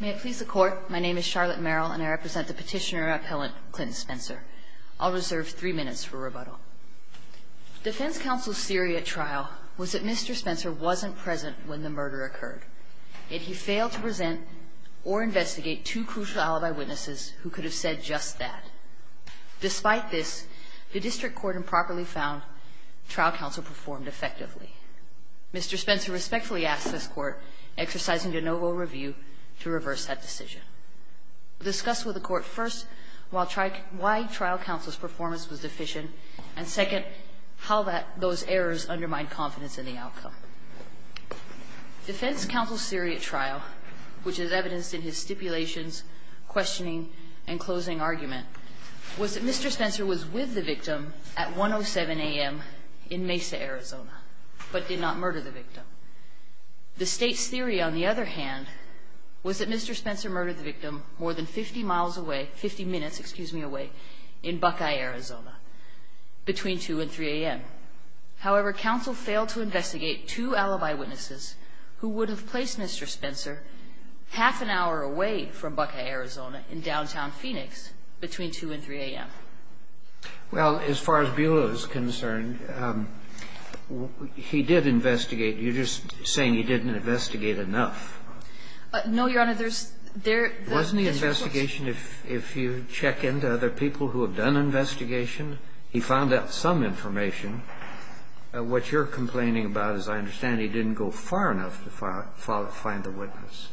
May it please the Court, my name is Charlotte Merrill and I represent the Petitioner-Appellant Clinton Spencer. I'll reserve three minutes for rebuttal. Defense counsel's theory at trial was that Mr. Spencer wasn't present when the murder occurred, yet he failed to present or investigate two crucial alibi witnesses who could have said just that. Despite this, the District Court improperly found trial counsel performed effectively. Mr. Spencer respectfully asked this Court, exercising de novo review, to reverse that decision. We'll discuss with the Court, first, why trial counsel's performance was deficient, and second, how those errors undermined confidence in the outcome. Defense counsel's theory at trial, which is evidenced in his stipulations, questioning, and closing argument, was that Mr. Spencer was with the victim at 1.07 a.m. in Mesa, Arizona, but did not murder the victim. The State's theory, on the other hand, was that Mr. Spencer murdered the victim more than 50 miles away, 50 minutes, excuse me, away in Buckeye, Arizona, between 2 and 3 a.m. However, counsel failed to investigate two alibi witnesses who would have placed Mr. Spencer half an hour away from Buckeye, Arizona, in downtown Phoenix, between 2 and 3 a.m. Well, as far as Bula is concerned, he did investigate. You're just saying he didn't investigate enough. No, Your Honor. There's their results. Wasn't the investigation, if you check into other people who have done investigation, he found out some information. What you're complaining about, as I understand, he didn't go far enough to find the witness.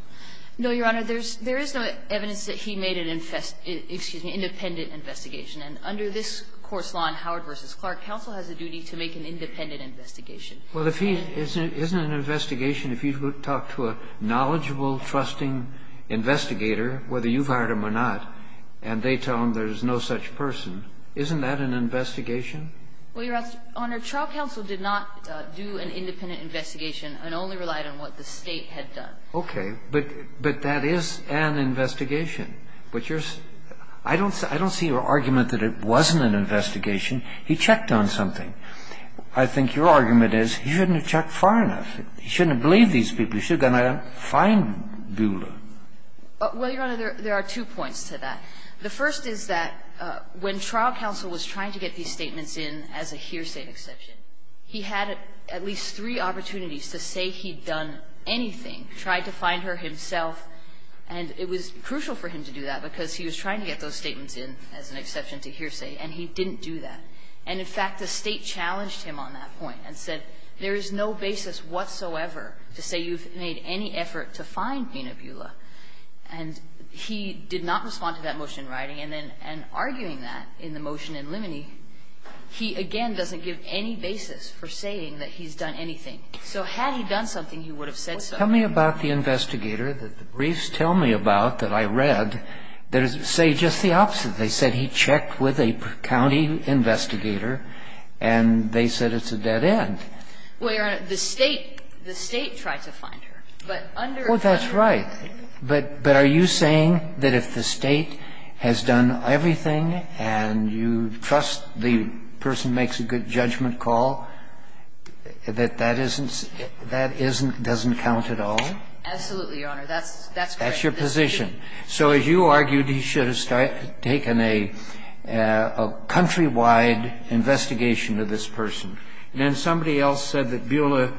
No, Your Honor. There is no evidence that he made an independent investigation. And under this court's law in Howard v. Clark, counsel has a duty to make an independent investigation. Well, if he isn't an investigation, if you talk to a knowledgeable, trusting investigator, whether you've hired him or not, and they tell him there's no such person, isn't that an investigation? Well, Your Honor, trial counsel did not do an independent investigation and only relied on what the State had done. Okay. But that is an investigation. But your – I don't see your argument that it wasn't an investigation. He checked on something. I think your argument is he shouldn't have checked far enough. He shouldn't have believed these people. He should have gone out and found Bula. Well, Your Honor, there are two points to that. The first is that when trial counsel was trying to get these statements in as a hearsay exception, he had at least three opportunities to say he'd done anything, tried to find her himself, and it was crucial for him to do that because he was trying to get those statements in as an exception to hearsay, and he didn't do that. And in fact, the State challenged him on that point and said there is no basis whatsoever to say you've made any effort to find Bina Bula. And he did not respond to that motion in writing. And then in arguing that in the motion in Liminey, he again doesn't give any basis for saying that he's done anything. So had he done something, he would have said so. Tell me about the investigator that the briefs tell me about that I read that say just the opposite. They said he checked with a county investigator, and they said it's a dead end. Well, Your Honor, the State tried to find her. But under the law. Well, that's right. But are you saying that if the State has done everything, and you trust the person who makes a good judgment call, that that doesn't count at all? Absolutely, Your Honor. That's correct. That's your position. So as you argued, he should have taken a countrywide investigation of this person. And then somebody else said that Bula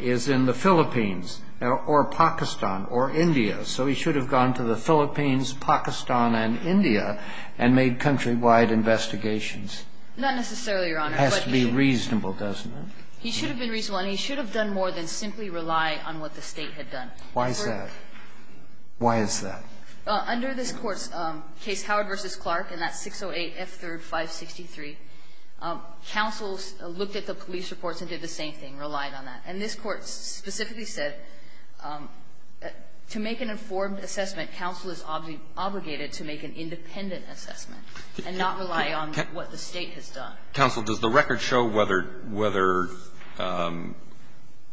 is in the Philippines or Pakistan or India. So he should have gone to the Philippines, Pakistan, and India and made countrywide investigations. Not necessarily, Your Honor. But he has to be reasonable, doesn't he? He should have been reasonable, and he should have done more than simply rely on what the State had done. Why is that? Why is that? Under this Court's case Howard v. Clark in that 608F3rd563, counsels looked at the police reports and did the same thing, relied on that. And this Court specifically said to make an informed assessment, counsel is obligated to make an independent assessment and not rely on what the State has done. Counsel, does the record show whether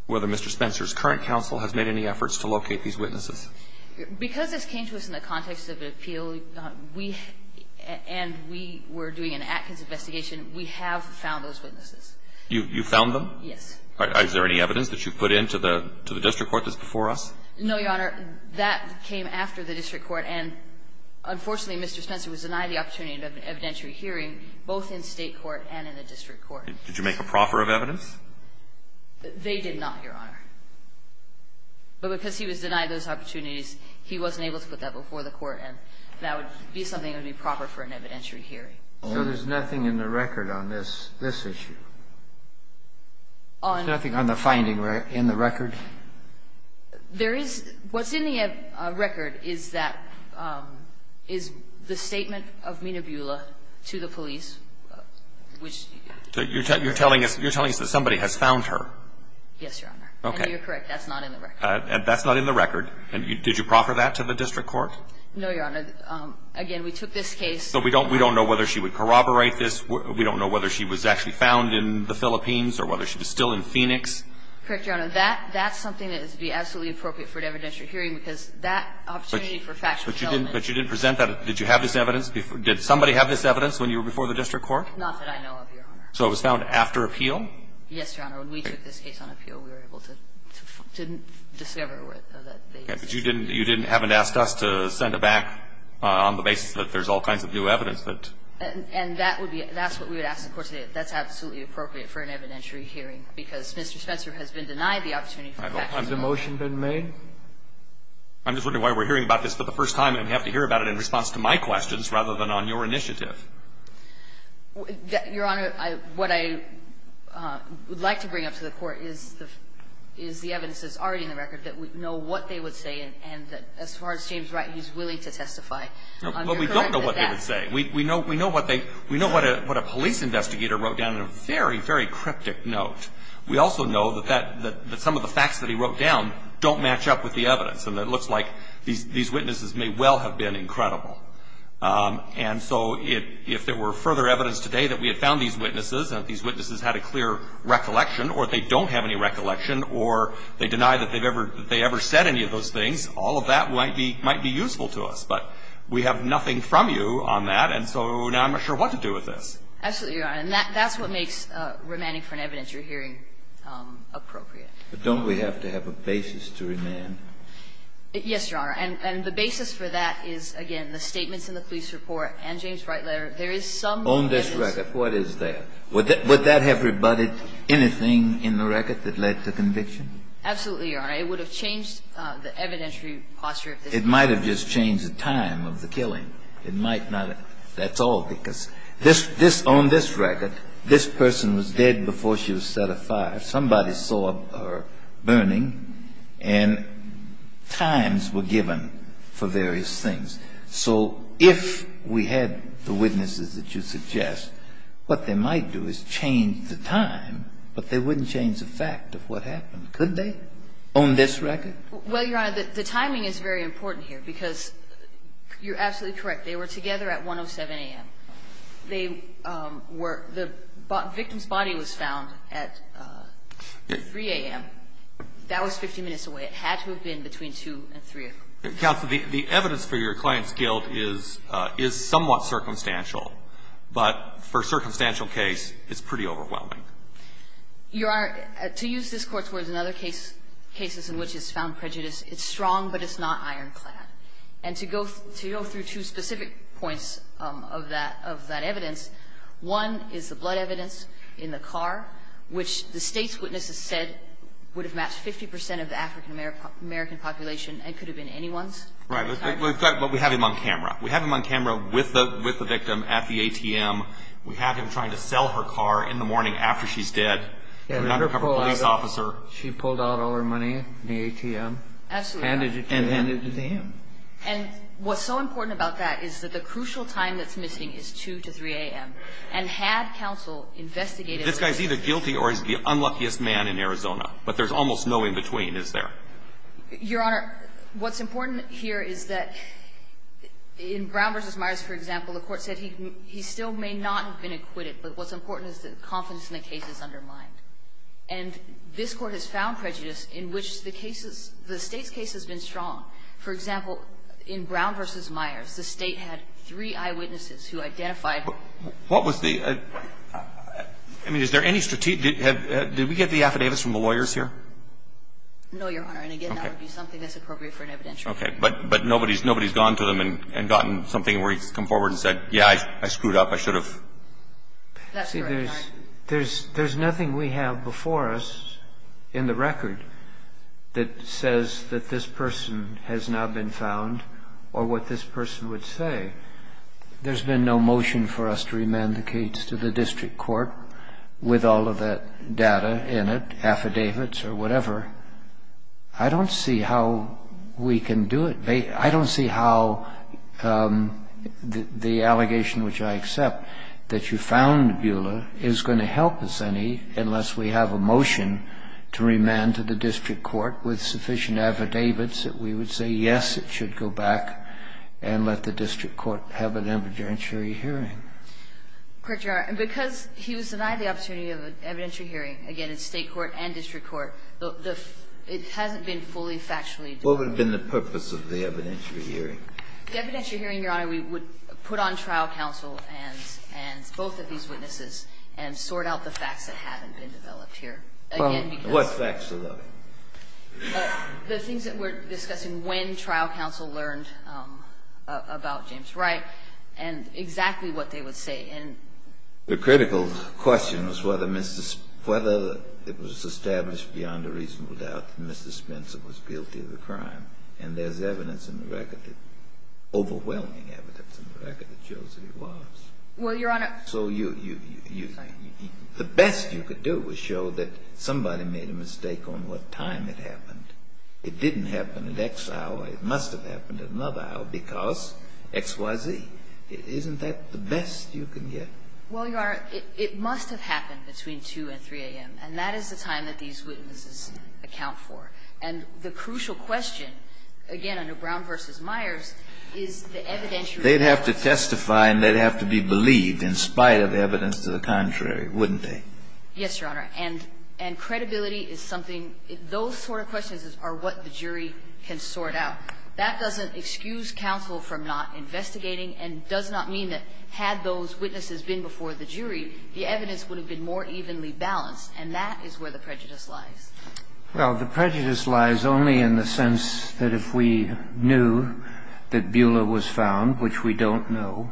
Mr. Spencer's current counsel has made any efforts to locate these witnesses? Because this came to us in the context of an appeal, we and we were doing an Atkins investigation, we have found those witnesses. You found them? Yes. Is there any evidence that you put into the district court that's before us? No, Your Honor. That came after the district court, and unfortunately, Mr. Spencer was denied the opportunity to have an evidentiary hearing both in State court and in the district court. Did you make a proffer of evidence? They did not, Your Honor. But because he was denied those opportunities, he wasn't able to put that before the court, and that would be something that would be proper for an evidentiary hearing. So there's nothing in the record on this issue? Nothing on the finding in the record? There is – what's in the record is that – is the statement of Menabula to the police, which – So you're telling us that somebody has found her? Yes, Your Honor. Okay. And you're correct. That's not in the record. That's not in the record. Did you proffer that to the district court? No, Your Honor. Again, we took this case – So we don't know whether she would corroborate this. We don't know whether she was actually found in the Philippines or whether she was still in Phoenix. Correct, Your Honor. That's something that would be absolutely appropriate for an evidentiary hearing, because that opportunity for factual element – But you didn't present that. Did you have this evidence before – did somebody have this evidence when you were before the district court? Not that I know of, Your Honor. So it was found after appeal? Yes, Your Honor. When we took this case on appeal, we were able to discover that they used it. Okay. But you didn't – you haven't asked us to send it back on the basis that there's all kinds of new evidence that – And that would be – that's what we would ask the court to do. That's absolutely appropriate for an evidentiary hearing, because Mr. Spencer has been denied the opportunity for factual element. Has the motion been made? I'm just wondering why we're hearing about this for the first time and we have to hear about it in response to my questions rather than on your initiative. Your Honor, I – what I would like to bring up to the Court is the evidence that's already in the record that we know what they would say and that as far as James Wright is willing to testify. Well, we don't know what they would say. We know what they – we know what a police investigator wrote down in a very, very cryptic note. We also know that that – that some of the facts that he wrote down don't match up with the evidence. And it looks like these witnesses may well have been incredible. And so if there were further evidence today that we had found these witnesses, that these witnesses had a clear recollection, or they don't have any recollection, or they deny that they've ever – that they ever said any of those things, all of that might be – might be useful to us. But we have nothing from you on that, and so now I'm not sure what to do with this. Absolutely, Your Honor. And that – that's what makes remanding for an evidentiary hearing appropriate. But don't we have to have a basis to remand? Yes, Your Honor. And the basis for that is, again, the statements in the police report and James Wright letter. There is some basis On this record, what is that? Would that – would that have rebutted anything in the record that led to conviction? Absolutely, Your Honor. It would have changed the evidentiary posture of this case. It might have just changed the time of the killing. It might not have – that's all, because this – this – on this record, this person was dead before she was set afire. Somebody saw her burning, and times were given for various things. So if we had the witnesses that you suggest, what they might do is change the time, but they wouldn't change the fact of what happened, could they, on this record? Well, Your Honor, the timing is very important here, because you're absolutely correct. They were together at 107 a.m. They were – the victim's body was found at 3 a.m. That was 50 minutes away. It had to have been between 2 and 3. Counsel, the evidence for your client's guilt is – is somewhat circumstantial, but for a circumstantial case, it's pretty overwhelming. Your Honor, to use this Court's words, in other cases in which it's found prejudice, it's strong, but it's not ironclad. And to go – to go through two specific points of that – of that evidence, one is the blood evidence in the car, which the State's witnesses said would have matched 50 percent of the African American population and could have been anyone's – Right. But we have him on camera. We have him on camera with the – with the victim at the ATM. We have him trying to sell her car in the morning after she's dead. We have her police officer. She pulled out all her money in the ATM. Absolutely. Handed it to him. And handed it to him. And what's so important about that is that the crucial time that's missing is 2 to 3 a.m. And had counsel investigated – This guy's either guilty or he's the unluckiest man in Arizona. But there's almost no in-between, is there? Your Honor, what's important here is that in Brown v. Myers, for example, the Court said he still may not have been acquitted, but what's important is that confidence in the case is undermined. And this Court has found prejudice in which the case is – the State's case has been strong. For example, in Brown v. Myers, the State had three eyewitnesses who identified her. What was the – I mean, is there any – did we get the affidavits from the lawyers here? No, Your Honor. And again, that would be something that's appropriate for an evidentiary. Okay. But nobody's gone to them and gotten something where he's come forward and said, yeah, I screwed up. I should have. That's correct, Your Honor. See, there's nothing we have before us in the record that says that this person has not been found or what this person would say. There's been no motion for us to remand the case to the district court with all of that data in it, affidavits or whatever. I don't see how we can do it. I don't see how the allegation which I accept, that you found Buehler, is going to help us any unless we have a motion to remand to the district court with sufficient affidavits that we would say, yes, it should go back and let the district court have an evidentiary hearing. Court, Your Honor, because he was denied the opportunity of an evidentiary hearing, again, in State court and district court, it hasn't been fully factually What would have been the purpose of the evidentiary hearing? The evidentiary hearing, Your Honor, we would put on trial counsel and both of these witnesses and sort out the facts that haven't been developed here. Again, because What facts are there? The things that we're discussing when trial counsel learned about James Wright and exactly what they would say. The critical question was whether Mr. — whether it was established beyond a reasonable doubt that Mr. Spencer was guilty of the crime. And there's evidence in the record that — overwhelming evidence in the record that shows that he was. Well, Your Honor So you — you — you — the best you could do was show that somebody made a mistake on what time it happened. It didn't happen at X hour. It must have happened at another hour because X, Y, Z. Isn't that the best you can get? Well, Your Honor, it must have happened between 2 and 3 a.m., and that is the time that these witnesses account for. And the crucial question, again, under Brown v. Myers, is the evidentiary They'd have to testify and they'd have to be believed in spite of evidence to the contrary, wouldn't they? Yes, Your Honor. And — and credibility is something — those sort of questions are what the jury can sort out. That doesn't excuse counsel from not investigating and does not mean that had those witnesses been before the jury, the evidence would have been more evenly balanced, and that is where the prejudice lies. Well, the prejudice lies only in the sense that if we knew that Beulah was found, which we don't know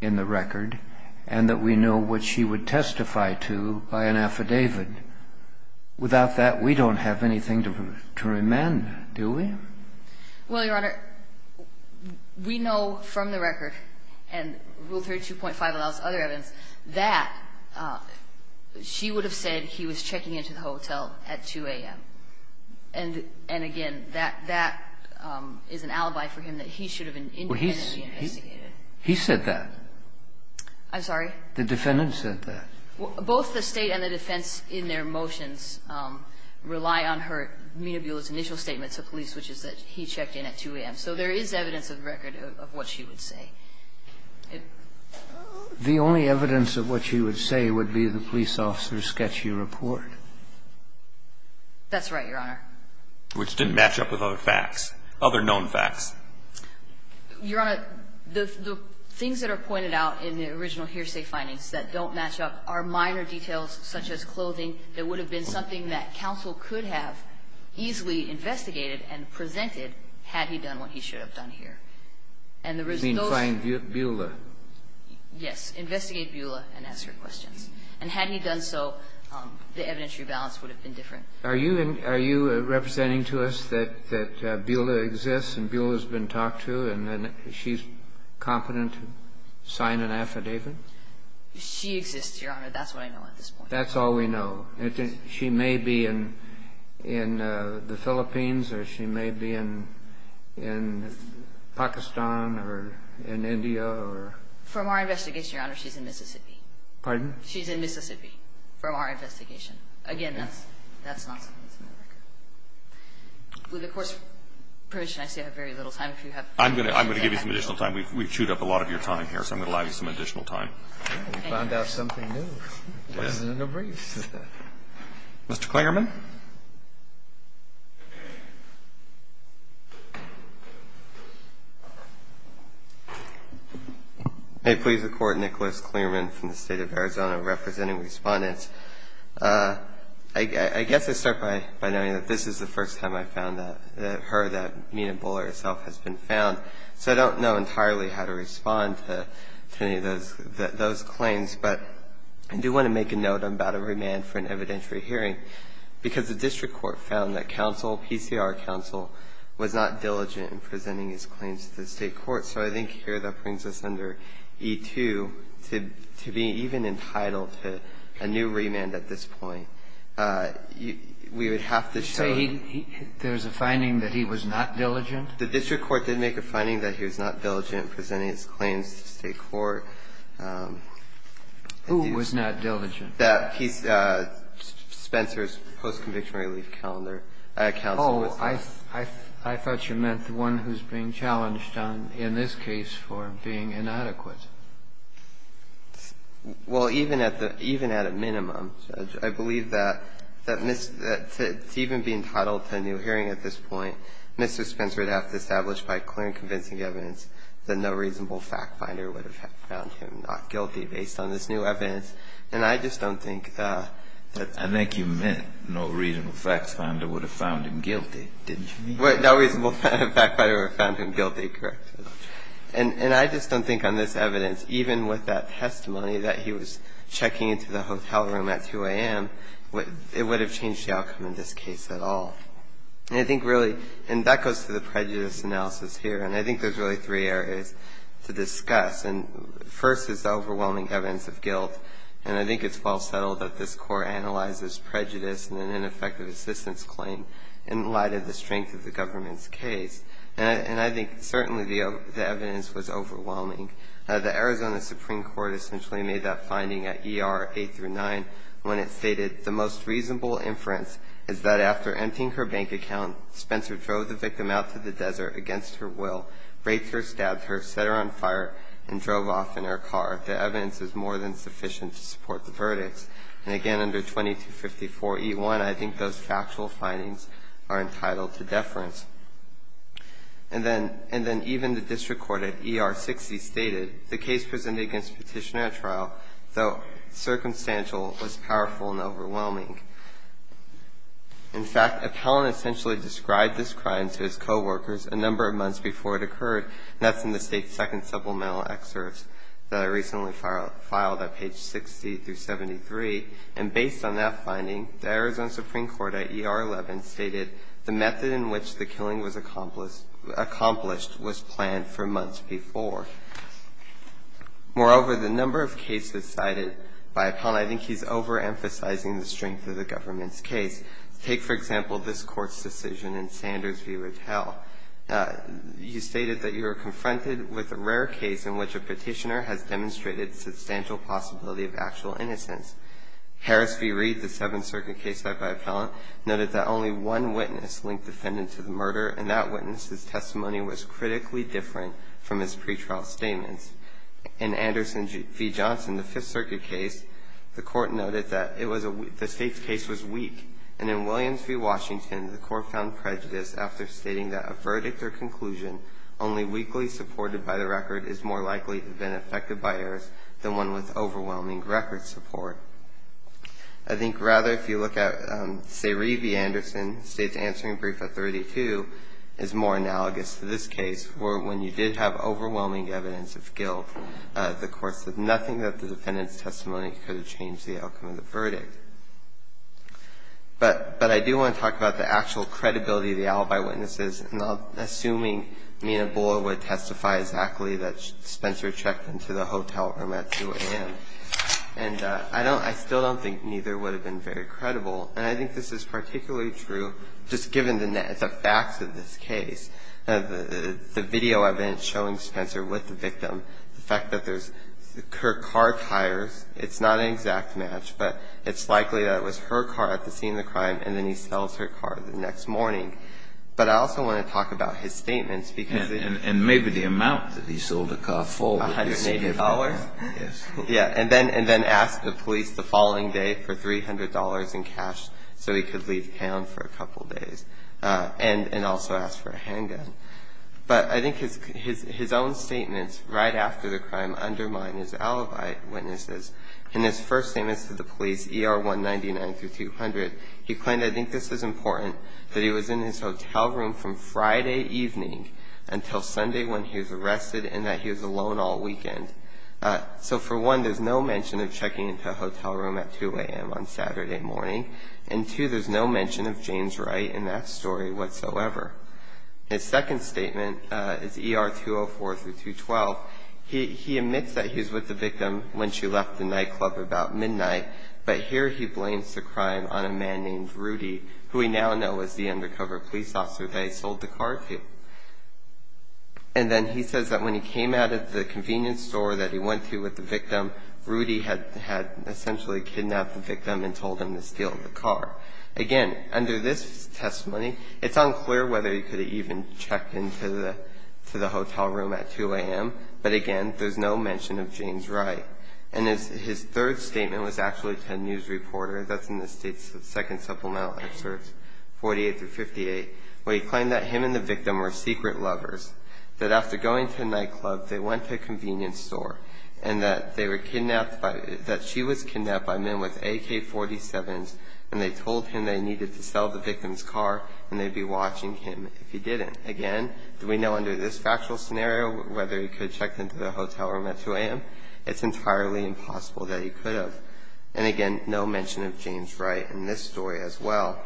in the record, and that we know what she would testify to by an affidavit, without that, we don't have anything to — to remand her, do we? Well, Your Honor, we know from the record, and Rule 32.5 allows other evidence, that she would have said he was checking into the hotel at 2 a.m. And — and, again, that — that is an alibi for him that he should have been independently investigated. He said that. I'm sorry? The defendant said that. Both the State and the defense in their motions rely on her — Menahbula's initial statement to police, which is that he checked in at 2 a.m. So there is evidence in the record of what she would say. The only evidence of what she would say would be the police officer's sketchy report. That's right, Your Honor. Which didn't match up with other facts, other known facts. Your Honor, the — the things that are pointed out in the original hearsay findings that don't match up are minor details such as clothing. There would have been something that counsel could have easily investigated and presented had he done what he should have done here. And the result of those — You mean find Bula? Yes. Investigate Bula and ask her questions. And had he done so, the evidentiary balance would have been different. Are you — are you representing to us that — that Bula exists and Bula has been talked to and then she's competent to sign an affidavit? She exists, Your Honor. That's what I know at this point. That's all we know. She may be in — in the Philippines or she may be in — in Pakistan or in India or — From our investigation, Your Honor, she's in Mississippi. Pardon? She's in Mississippi from our investigation. Again, that's — that's not something that's in the record. With the Court's permission, I see I have very little time. If you have — I'm going to — I'm going to give you some additional time. We've chewed up a lot of your time here, so I'm going to allow you some additional time. Thank you. We found out something new. Yes. Mr. Klingerman? May it please the Court, Nicholas Klingerman from the State of Arizona, representing Respondents. I guess I start by noting that this is the first time I found out — heard that Nina Bula herself has been found, so I don't know entirely how to respond to any of those — those claims, but I do want to make a note about a remand for an evidentiary hearing because the district court found that counsel, PCR counsel, was not diligent in presenting his claims to the state court. So I think here that brings us under E-2 to — to be even entitled to a new remand at this point. We would have to show — So he — there's a finding that he was not diligent? The district court did make a finding that he was not diligent in presenting his claims to state court. Who was not diligent? That he — Spencer's post-conviction relief calendar. Oh, I thought you meant the one who's being challenged on — in this case for being inadequate. Well, even at the — even at a minimum, Judge, I believe that — that to even be entitled to a new hearing at this point, Mr. Spencer would have to establish by clear and convincing evidence that no reasonable fact finder would have found him not guilty based on this new evidence. And I just don't think that — I think you meant no reasonable fact finder would have found him guilty, didn't you? No reasonable fact finder would have found him guilty, correct. And I just don't think on this evidence, even with that testimony that he was checking into the hotel room at 2 a.m., it would have changed the outcome in this case at all. And I think really — and that goes to the prejudice analysis here. And I think there's really three areas to discuss. And first is the overwhelming evidence of guilt. And I think it's well settled that this Court analyzes prejudice in an ineffective assistance claim in light of the strength of the government's case. And I think certainly the evidence was overwhelming. The Arizona Supreme Court essentially made that finding at ER 8 through 9 when it stated, the most reasonable inference is that after emptying her bank account, Spencer drove the vehicle, raped her, stabbed her, set her on fire, and drove off in her car. The evidence is more than sufficient to support the verdicts. And again, under 2254e1, I think those factual findings are entitled to deference. And then — and then even the district court at ER 60 stated, the case presented against Petitioner at trial, though circumstantial, was powerful and overwhelming. In fact, Appellant essentially described this crime to his co-workers a number of months before it occurred, and that's in the State's Second Supplemental Excerpt that I recently filed at page 60 through 73. And based on that finding, the Arizona Supreme Court at ER 11 stated, the method in which the killing was accomplished was planned for months before. Moreover, the number of cases cited by Appellant, I think he's overemphasizing the strength of the government's case. Take, for example, this Court's decision in Sanders v. Rattell. You stated that you were confronted with a rare case in which a petitioner has demonstrated substantial possibility of actual innocence. Harris v. Reed, the Seventh Circuit case cited by Appellant, noted that only one witness linked the defendant to the murder, and that witness's testimony was critically different from his pretrial statements. In Anderson v. Johnson, the Fifth Circuit case, the Court noted that it was a — the State's case was weak. And in Williams v. Washington, the Court found prejudice after stating that a verdict or conclusion only weakly supported by the record is more likely to have been affected by errors than one with overwhelming record support. I think, rather, if you look at Sayree v. Anderson, State's answering brief at 32, is more analogous to this case, where when you did have overwhelming evidence of guilt, the Court said nothing that the defendant's testimony could have changed the outcome of the verdict. But I do want to talk about the actual credibility of the alibi witnesses, and I'm assuming Nina Buller would testify exactly that Spencer checked into the hotel room at 2 a.m. And I don't — I still don't think neither would have been very credible. And I think this is particularly true, just given the facts of this case, the video evidence showing Spencer with the victim, the fact that there's — her car tires, it's not an exact match, but it's likely that it was her car at the scene of the crime and then he sells her car the next morning. But I also want to talk about his statements, because the — Kennedy, and maybe the amount that he sold the car for would be significant. Goldstein, $180? Yes. Goldstein, yeah. And then — and then asked the police the following day for $300 in cash so he could leave town for a couple days, and also asked for a handgun. But I think his own statements right after the crime undermine his alibi witnesses, and his first statement to the police, ER 199-200, he claimed, I think this is important, that he was in his hotel room from Friday evening until Sunday when he was arrested and that he was alone all weekend. So, for one, there's no mention of checking into a hotel room at 2 a.m. on Saturday morning, and, two, there's no mention of James Wright in that story whatsoever. His second statement is ER 204-212, he admits that he was with the victim when she left the nightclub about midnight, but here he blames the crime on a man named Rudy, who we now know is the undercover police officer that he sold the car to. And then he says that when he came out of the convenience store that he went to with the victim, Rudy had — had essentially kidnapped the victim and told him to steal the car. Again, under this testimony, it's unclear whether he could have even checked into the hotel room at 2 a.m., but, again, there's no mention of James Wright. And his third statement was actually to a news reporter — that's in the State's second supplemental excerpts, 48 through 58 — where he claimed that him and the victim were secret lovers, that after going to a nightclub, they went to a convenience store, and that they were kidnapped by — that she was kidnapped by men with AK-47s, and they told him they needed to sell the victim's car and they'd be watching him if he didn't. Again, we know under this factual scenario whether he could have checked into the hotel room at 2 a.m. It's entirely impossible that he could have. And, again, no mention of James Wright in this story as well.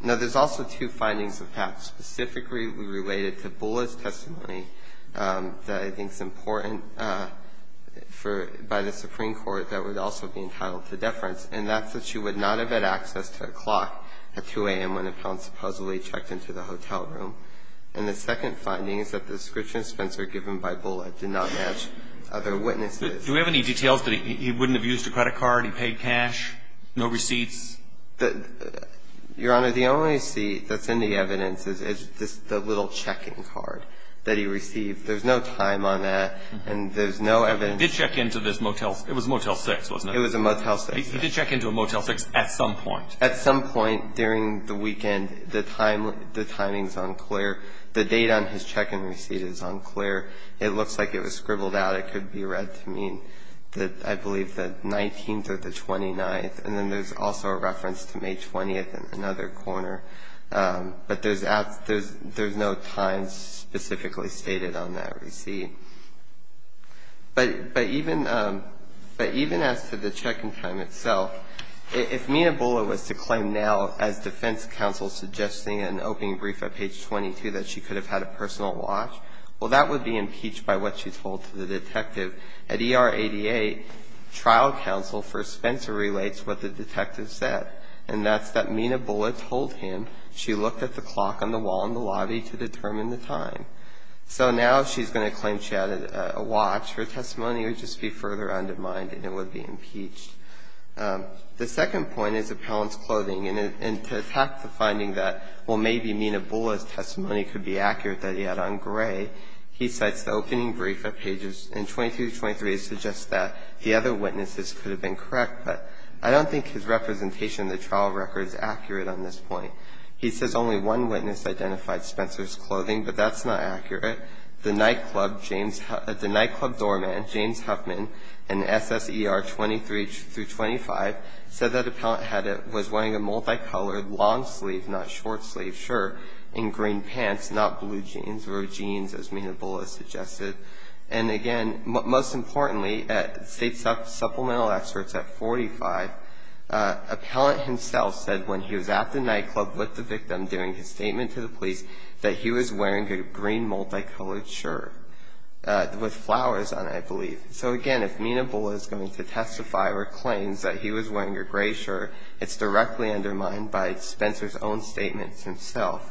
Now, there's also two findings of Pat specifically related to Bullitt's testimony that I think is important for — by the Supreme Court that would also be entitled to deference, and that's that she would not have had access to a clock at 2 a.m. when the parents supposedly checked into the hotel room. And the second finding is that the description Spencer given by Bullitt did not match other witnesses. Do we have any details that he wouldn't have used a credit card, he paid cash, no receipts? Your Honor, the only receipt that's in the evidence is the little checking card that he received. There's no time on that, and there's no evidence — He did check into this motel — it was a Motel 6, wasn't it? It was a Motel 6, yes. He did check into a Motel 6 at some point. At some point during the weekend, the timing is unclear. The date on his check-in receipt is unclear. It looks like it was scribbled out. It could be read to mean, I believe, the 19th or the 29th. And then there's also a reference to May 20th in another corner. But there's no time specifically stated on that receipt. But even as to the check-in time itself, if Mina Bullitt was to claim now, as defense counsel suggesting in an opening brief at page 22, that she could have had a personal watch, well, that would be impeached by what she told to the detective. At ER 88, trial counsel for Spencer relates what the detective said, and that's that Mina Bullitt told him she looked at the clock on the wall in the lobby to determine the time. So now if she's going to claim she had a watch, her testimony would just be further undermined, and it would be impeached. The second point is appellant's clothing. And to attack the finding that, well, maybe Mina Bullitt's testimony could be accurate that he had on gray, he cites the opening brief at pages 22 to 23 to suggest that the other witnesses could have been correct. But I don't think his representation in the trial record is accurate on this point. He says only one witness identified Spencer's clothing, but that's not accurate. The nightclub doorman, James Huffman, in SSER 23 through 25, said that appellant was wearing a multicolored, long-sleeved, not short-sleeved shirt and green pants, not blue jeans or jeans, as Mina Bullitt suggested. And again, most importantly, state supplemental experts at 45, appellant himself said when he was at the nightclub with the victim doing his statement to the police that he was wearing a green multicolored shirt with flowers on it, I believe. So again, if Mina Bullitt is going to testify or claims that he was wearing a gray shirt, it's directly undermined by Spencer's own statements himself.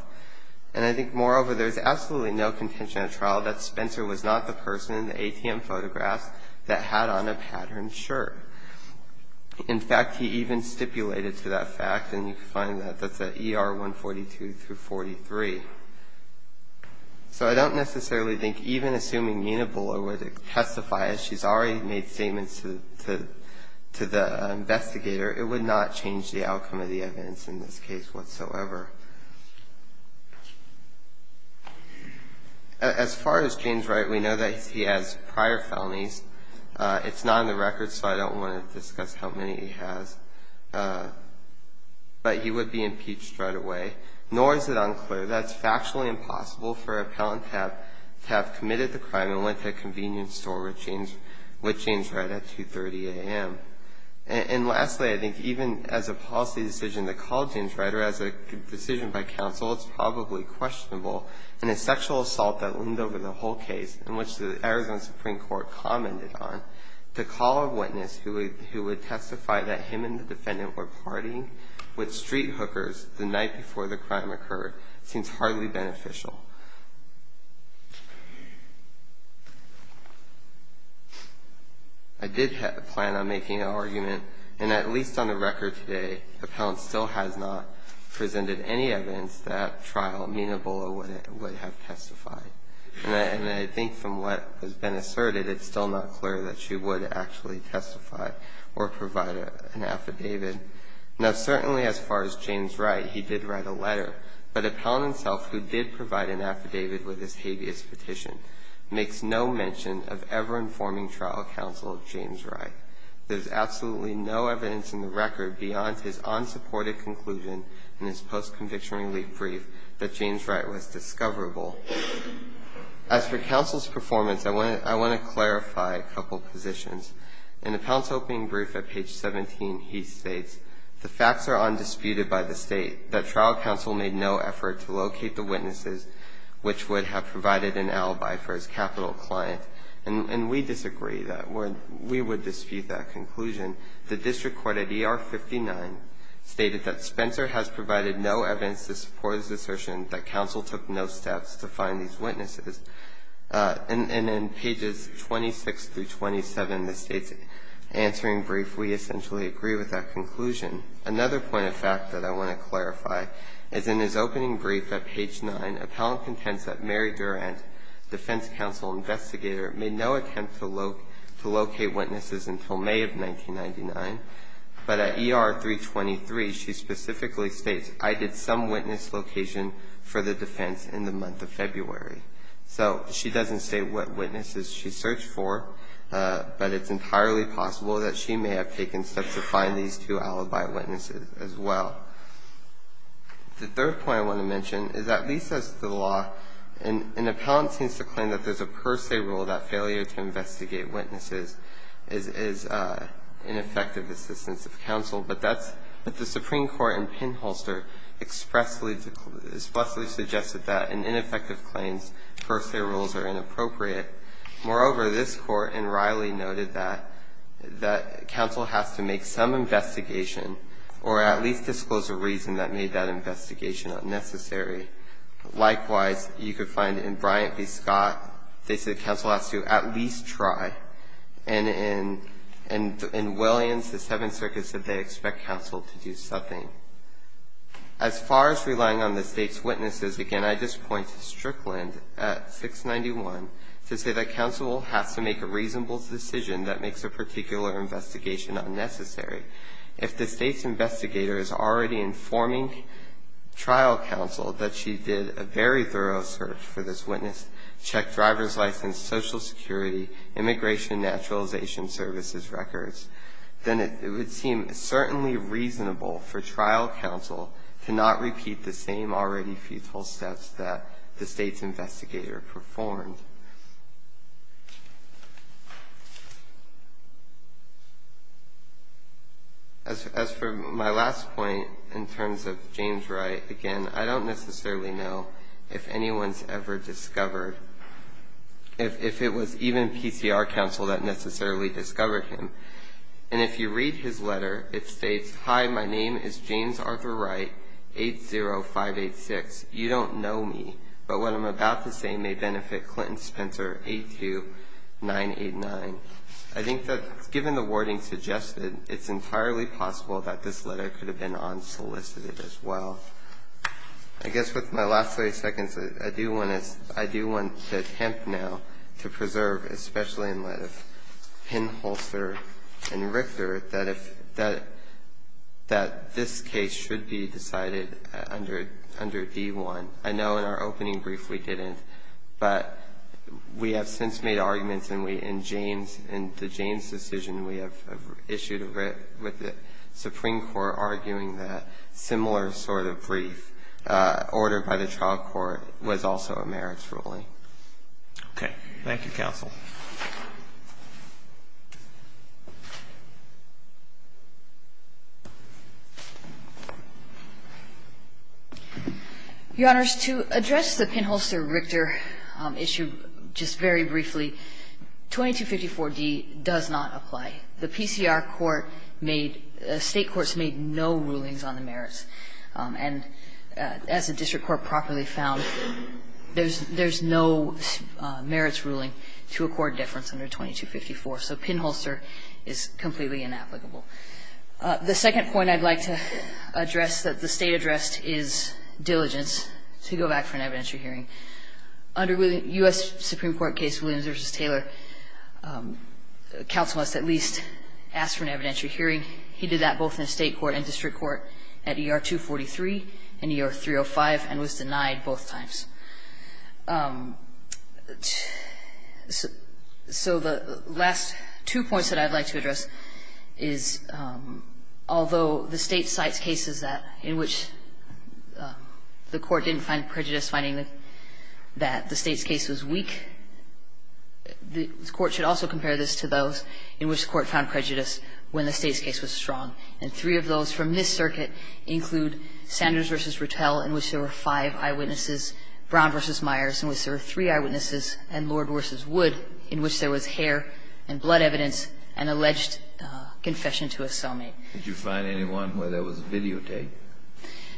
And I think, moreover, there's absolutely no contention at trial that Spencer was not the person in the ATM photographs that had on a patterned shirt. In fact, he even stipulated to that fact, and you can find that, that's at ER 142 through 43. So I don't necessarily think even assuming Mina Bullitt would testify, as she's already made statements to the investigator, it would not change the outcome of the evidence in this case whatsoever. As far as James Wright, we know that he has prior felonies. It's not on the record, so I don't want to discuss how many he has. But he would be impeached right away. Nor is it unclear that it's factually impossible for an appellant to have committed the crime and went to a convenience store with James Wright at 2.30 a.m. And lastly, I think even as a policy decision that called James Wright or as a decision by counsel, it's probably questionable. In a sexual assault that leaned over the whole case, in which the Arizona Supreme Court commented on, the call of witness who would testify that him and the defendant were partying with street hookers the night before the crime occurred seems hardly beneficial. I did have a plan on making an argument, and at least on the record today, appellant still has not presented any evidence that trial Mina Bullough would have testified. And I think from what has been asserted, it's still not clear that she would actually testify or provide an affidavit. Now, certainly as far as James Wright, he did write a letter. But appellant himself, who did provide an affidavit with his habeas petition, makes no mention of ever informing trial counsel of James Wright. There's absolutely no evidence in the record beyond his unsupported conclusion in his post-conviction relief brief that James Wright was discoverable. As for counsel's performance, I want to clarify a couple positions. In the appellant's opening brief at page 17, he states, the facts are undisputed by the state that trial counsel made no effort to locate the witnesses which would have provided an alibi for his capital client. And we disagree that we would dispute that conclusion. The district court at ER 59 stated that Spencer has provided no evidence to support his assertion that counsel took no steps to find these witnesses. And in pages 26 through 27 of the state's answering brief, we essentially agree with that conclusion. Another point of fact that I want to clarify is in his opening brief at page 9, appellant contends that Mary Durant, defense counsel investigator, made no attempt to locate witnesses until May of 1999. But at ER 323, she specifically states, I did some witness location for the defense in the month of February. So she doesn't say what witnesses she searched for, but it's entirely possible that she may have taken steps to find these two alibi witnesses as well. The third point I want to mention is that at least as to the law, an appellant seems to claim that there's a per se rule that failure to investigate witnesses is ineffective assistance of counsel. But that's what the Supreme Court in Pinholster expressly suggested, that in ineffective claims, per se rules are inappropriate. Moreover, this Court in Riley noted that counsel has to make some investigation or at least disclose a reason that made that investigation unnecessary. Likewise, you could find in Bryant v. Scott, they said counsel has to at least try. And in Williams, the Seventh Circuit said they expect counsel to do something. As far as relying on the state's witnesses, again, I just point to Strickland at 691 to say that counsel has to make a reasonable decision that makes a particular investigation unnecessary. If the state's investigator is already informing trial counsel that she did a very thorough search for this witness, checked driver's license, social security, immigration, naturalization services records, then it would seem certainly reasonable for trial counsel to not repeat the same already futile steps that the state's investigator performed. As for my last point in terms of James Wright, again, I don't necessarily know if anyone's ever discovered, if it was even PCR counsel that necessarily discovered him. And if you read his letter, it states, hi, my name is James Arthur Wright, 80586. You don't know me. I think that given the wording suggested, it's entirely possible that this letter could have been unsolicited as well. I guess with my last 30 seconds, I do want to attempt now to preserve, especially in light of Pinholster and Richter, that this case should be decided under D1. I know in our opening brief we didn't. But we have since made arguments, and we, in James, in the James decision, we have issued a writ with the Supreme Court arguing that similar sort of brief ordered by the trial court was also a merits ruling. Thank you, counsel. Your Honors, to address the Pinholster-Richter issue just very briefly, 2254d does not apply. The PCR court made, state courts made no rulings on the merits. And as the district court properly found, there's no merits ruling to apply to the And so I'm going to defer to Justice Breyer. court difference under 2254. So Pinholster is completely inapplicable. The second point I'd like to address that the state addressed is diligence to go back for an evidentiary hearing. Under the U.S. Supreme Court case Williams v. Taylor, counsel must at least ask for an evidentiary hearing. He did that both in state court and district court at ER 243 and ER 305 and was denied both times. So the last two points that I'd like to address is although the state cites cases that in which the court didn't find prejudice finding that the state's case was weak, the court should also compare this to those in which the court found prejudice when the state's case was strong. And three of those from this circuit include Sanders v. Ruttell in which there were five eyewitnesses, Brown v. Myers in which there were three eyewitnesses and Lord versus Wood in which there was hair and blood evidence and alleged confession to a cellmate. Did you find anyone where there was videotape?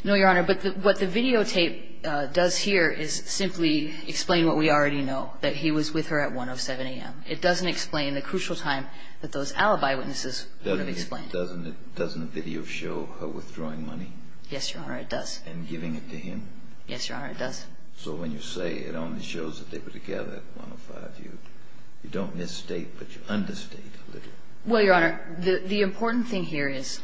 No, Your Honor, but what the videotape does here is simply explain what we already know, that he was with her at 1 of 7 a.m. It doesn't explain the crucial time that those alibi witnesses would have explained. Doesn't the video show her withdrawing money? Yes, Your Honor, it does. And giving it to him? Yes, Your Honor, it does. So when you say it only shows that they were together at 1 of 5, you don't misstate, but you understate a little. Well, Your Honor, the important thing here is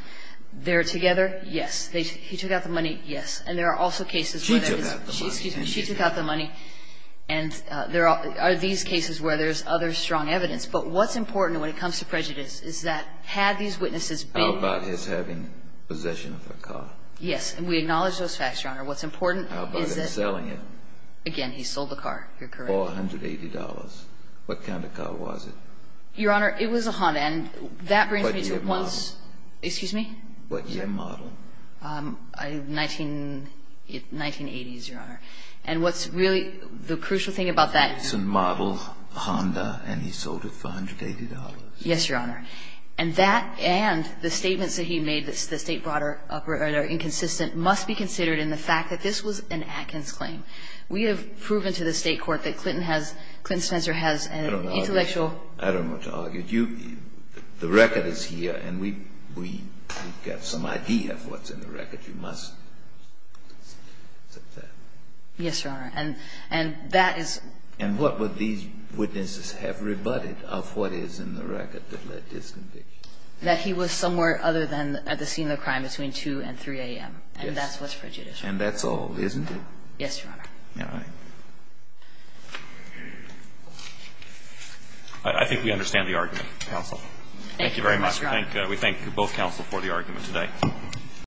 they're together, yes. He took out the money, yes. And there are also cases where there is... She took out the money. Excuse me. She took out the money. And there are these cases where there's other strong evidence. But what's important when it comes to prejudice is that had these witnesses been... How about his having possession of her car? Yes, and we acknowledge those facts, Your Honor. What's important is that... How about him selling it? Again, he sold the car. You're correct. For $180. What kind of car was it? Your Honor, it was a Honda, and that brings me to once... What year model? Excuse me? What year model? 1980s, Your Honor. And what's really the crucial thing about that... It's a model Honda, and he sold it for $180. Yes, Your Honor. And that and the statements that he made that the state brought up are inconsistent must be considered in the fact that this was an Atkins claim. We have proven to the state court that Clinton has... Clinton Spencer has an intellectual... I don't know what to argue. The record is here, and we've got some idea of what's in the record. You must accept that. Yes, Your Honor. And that is... And what would these witnesses have rebutted of what is in the record that led to this conviction? That he was somewhere other than at the scene of the crime, between 2 and 3 a.m., and that's what's prejudicial. And that's all, isn't it? Yes, Your Honor. All right. I think we understand the argument, counsel. Thank you very much. We thank both counsel for the argument today.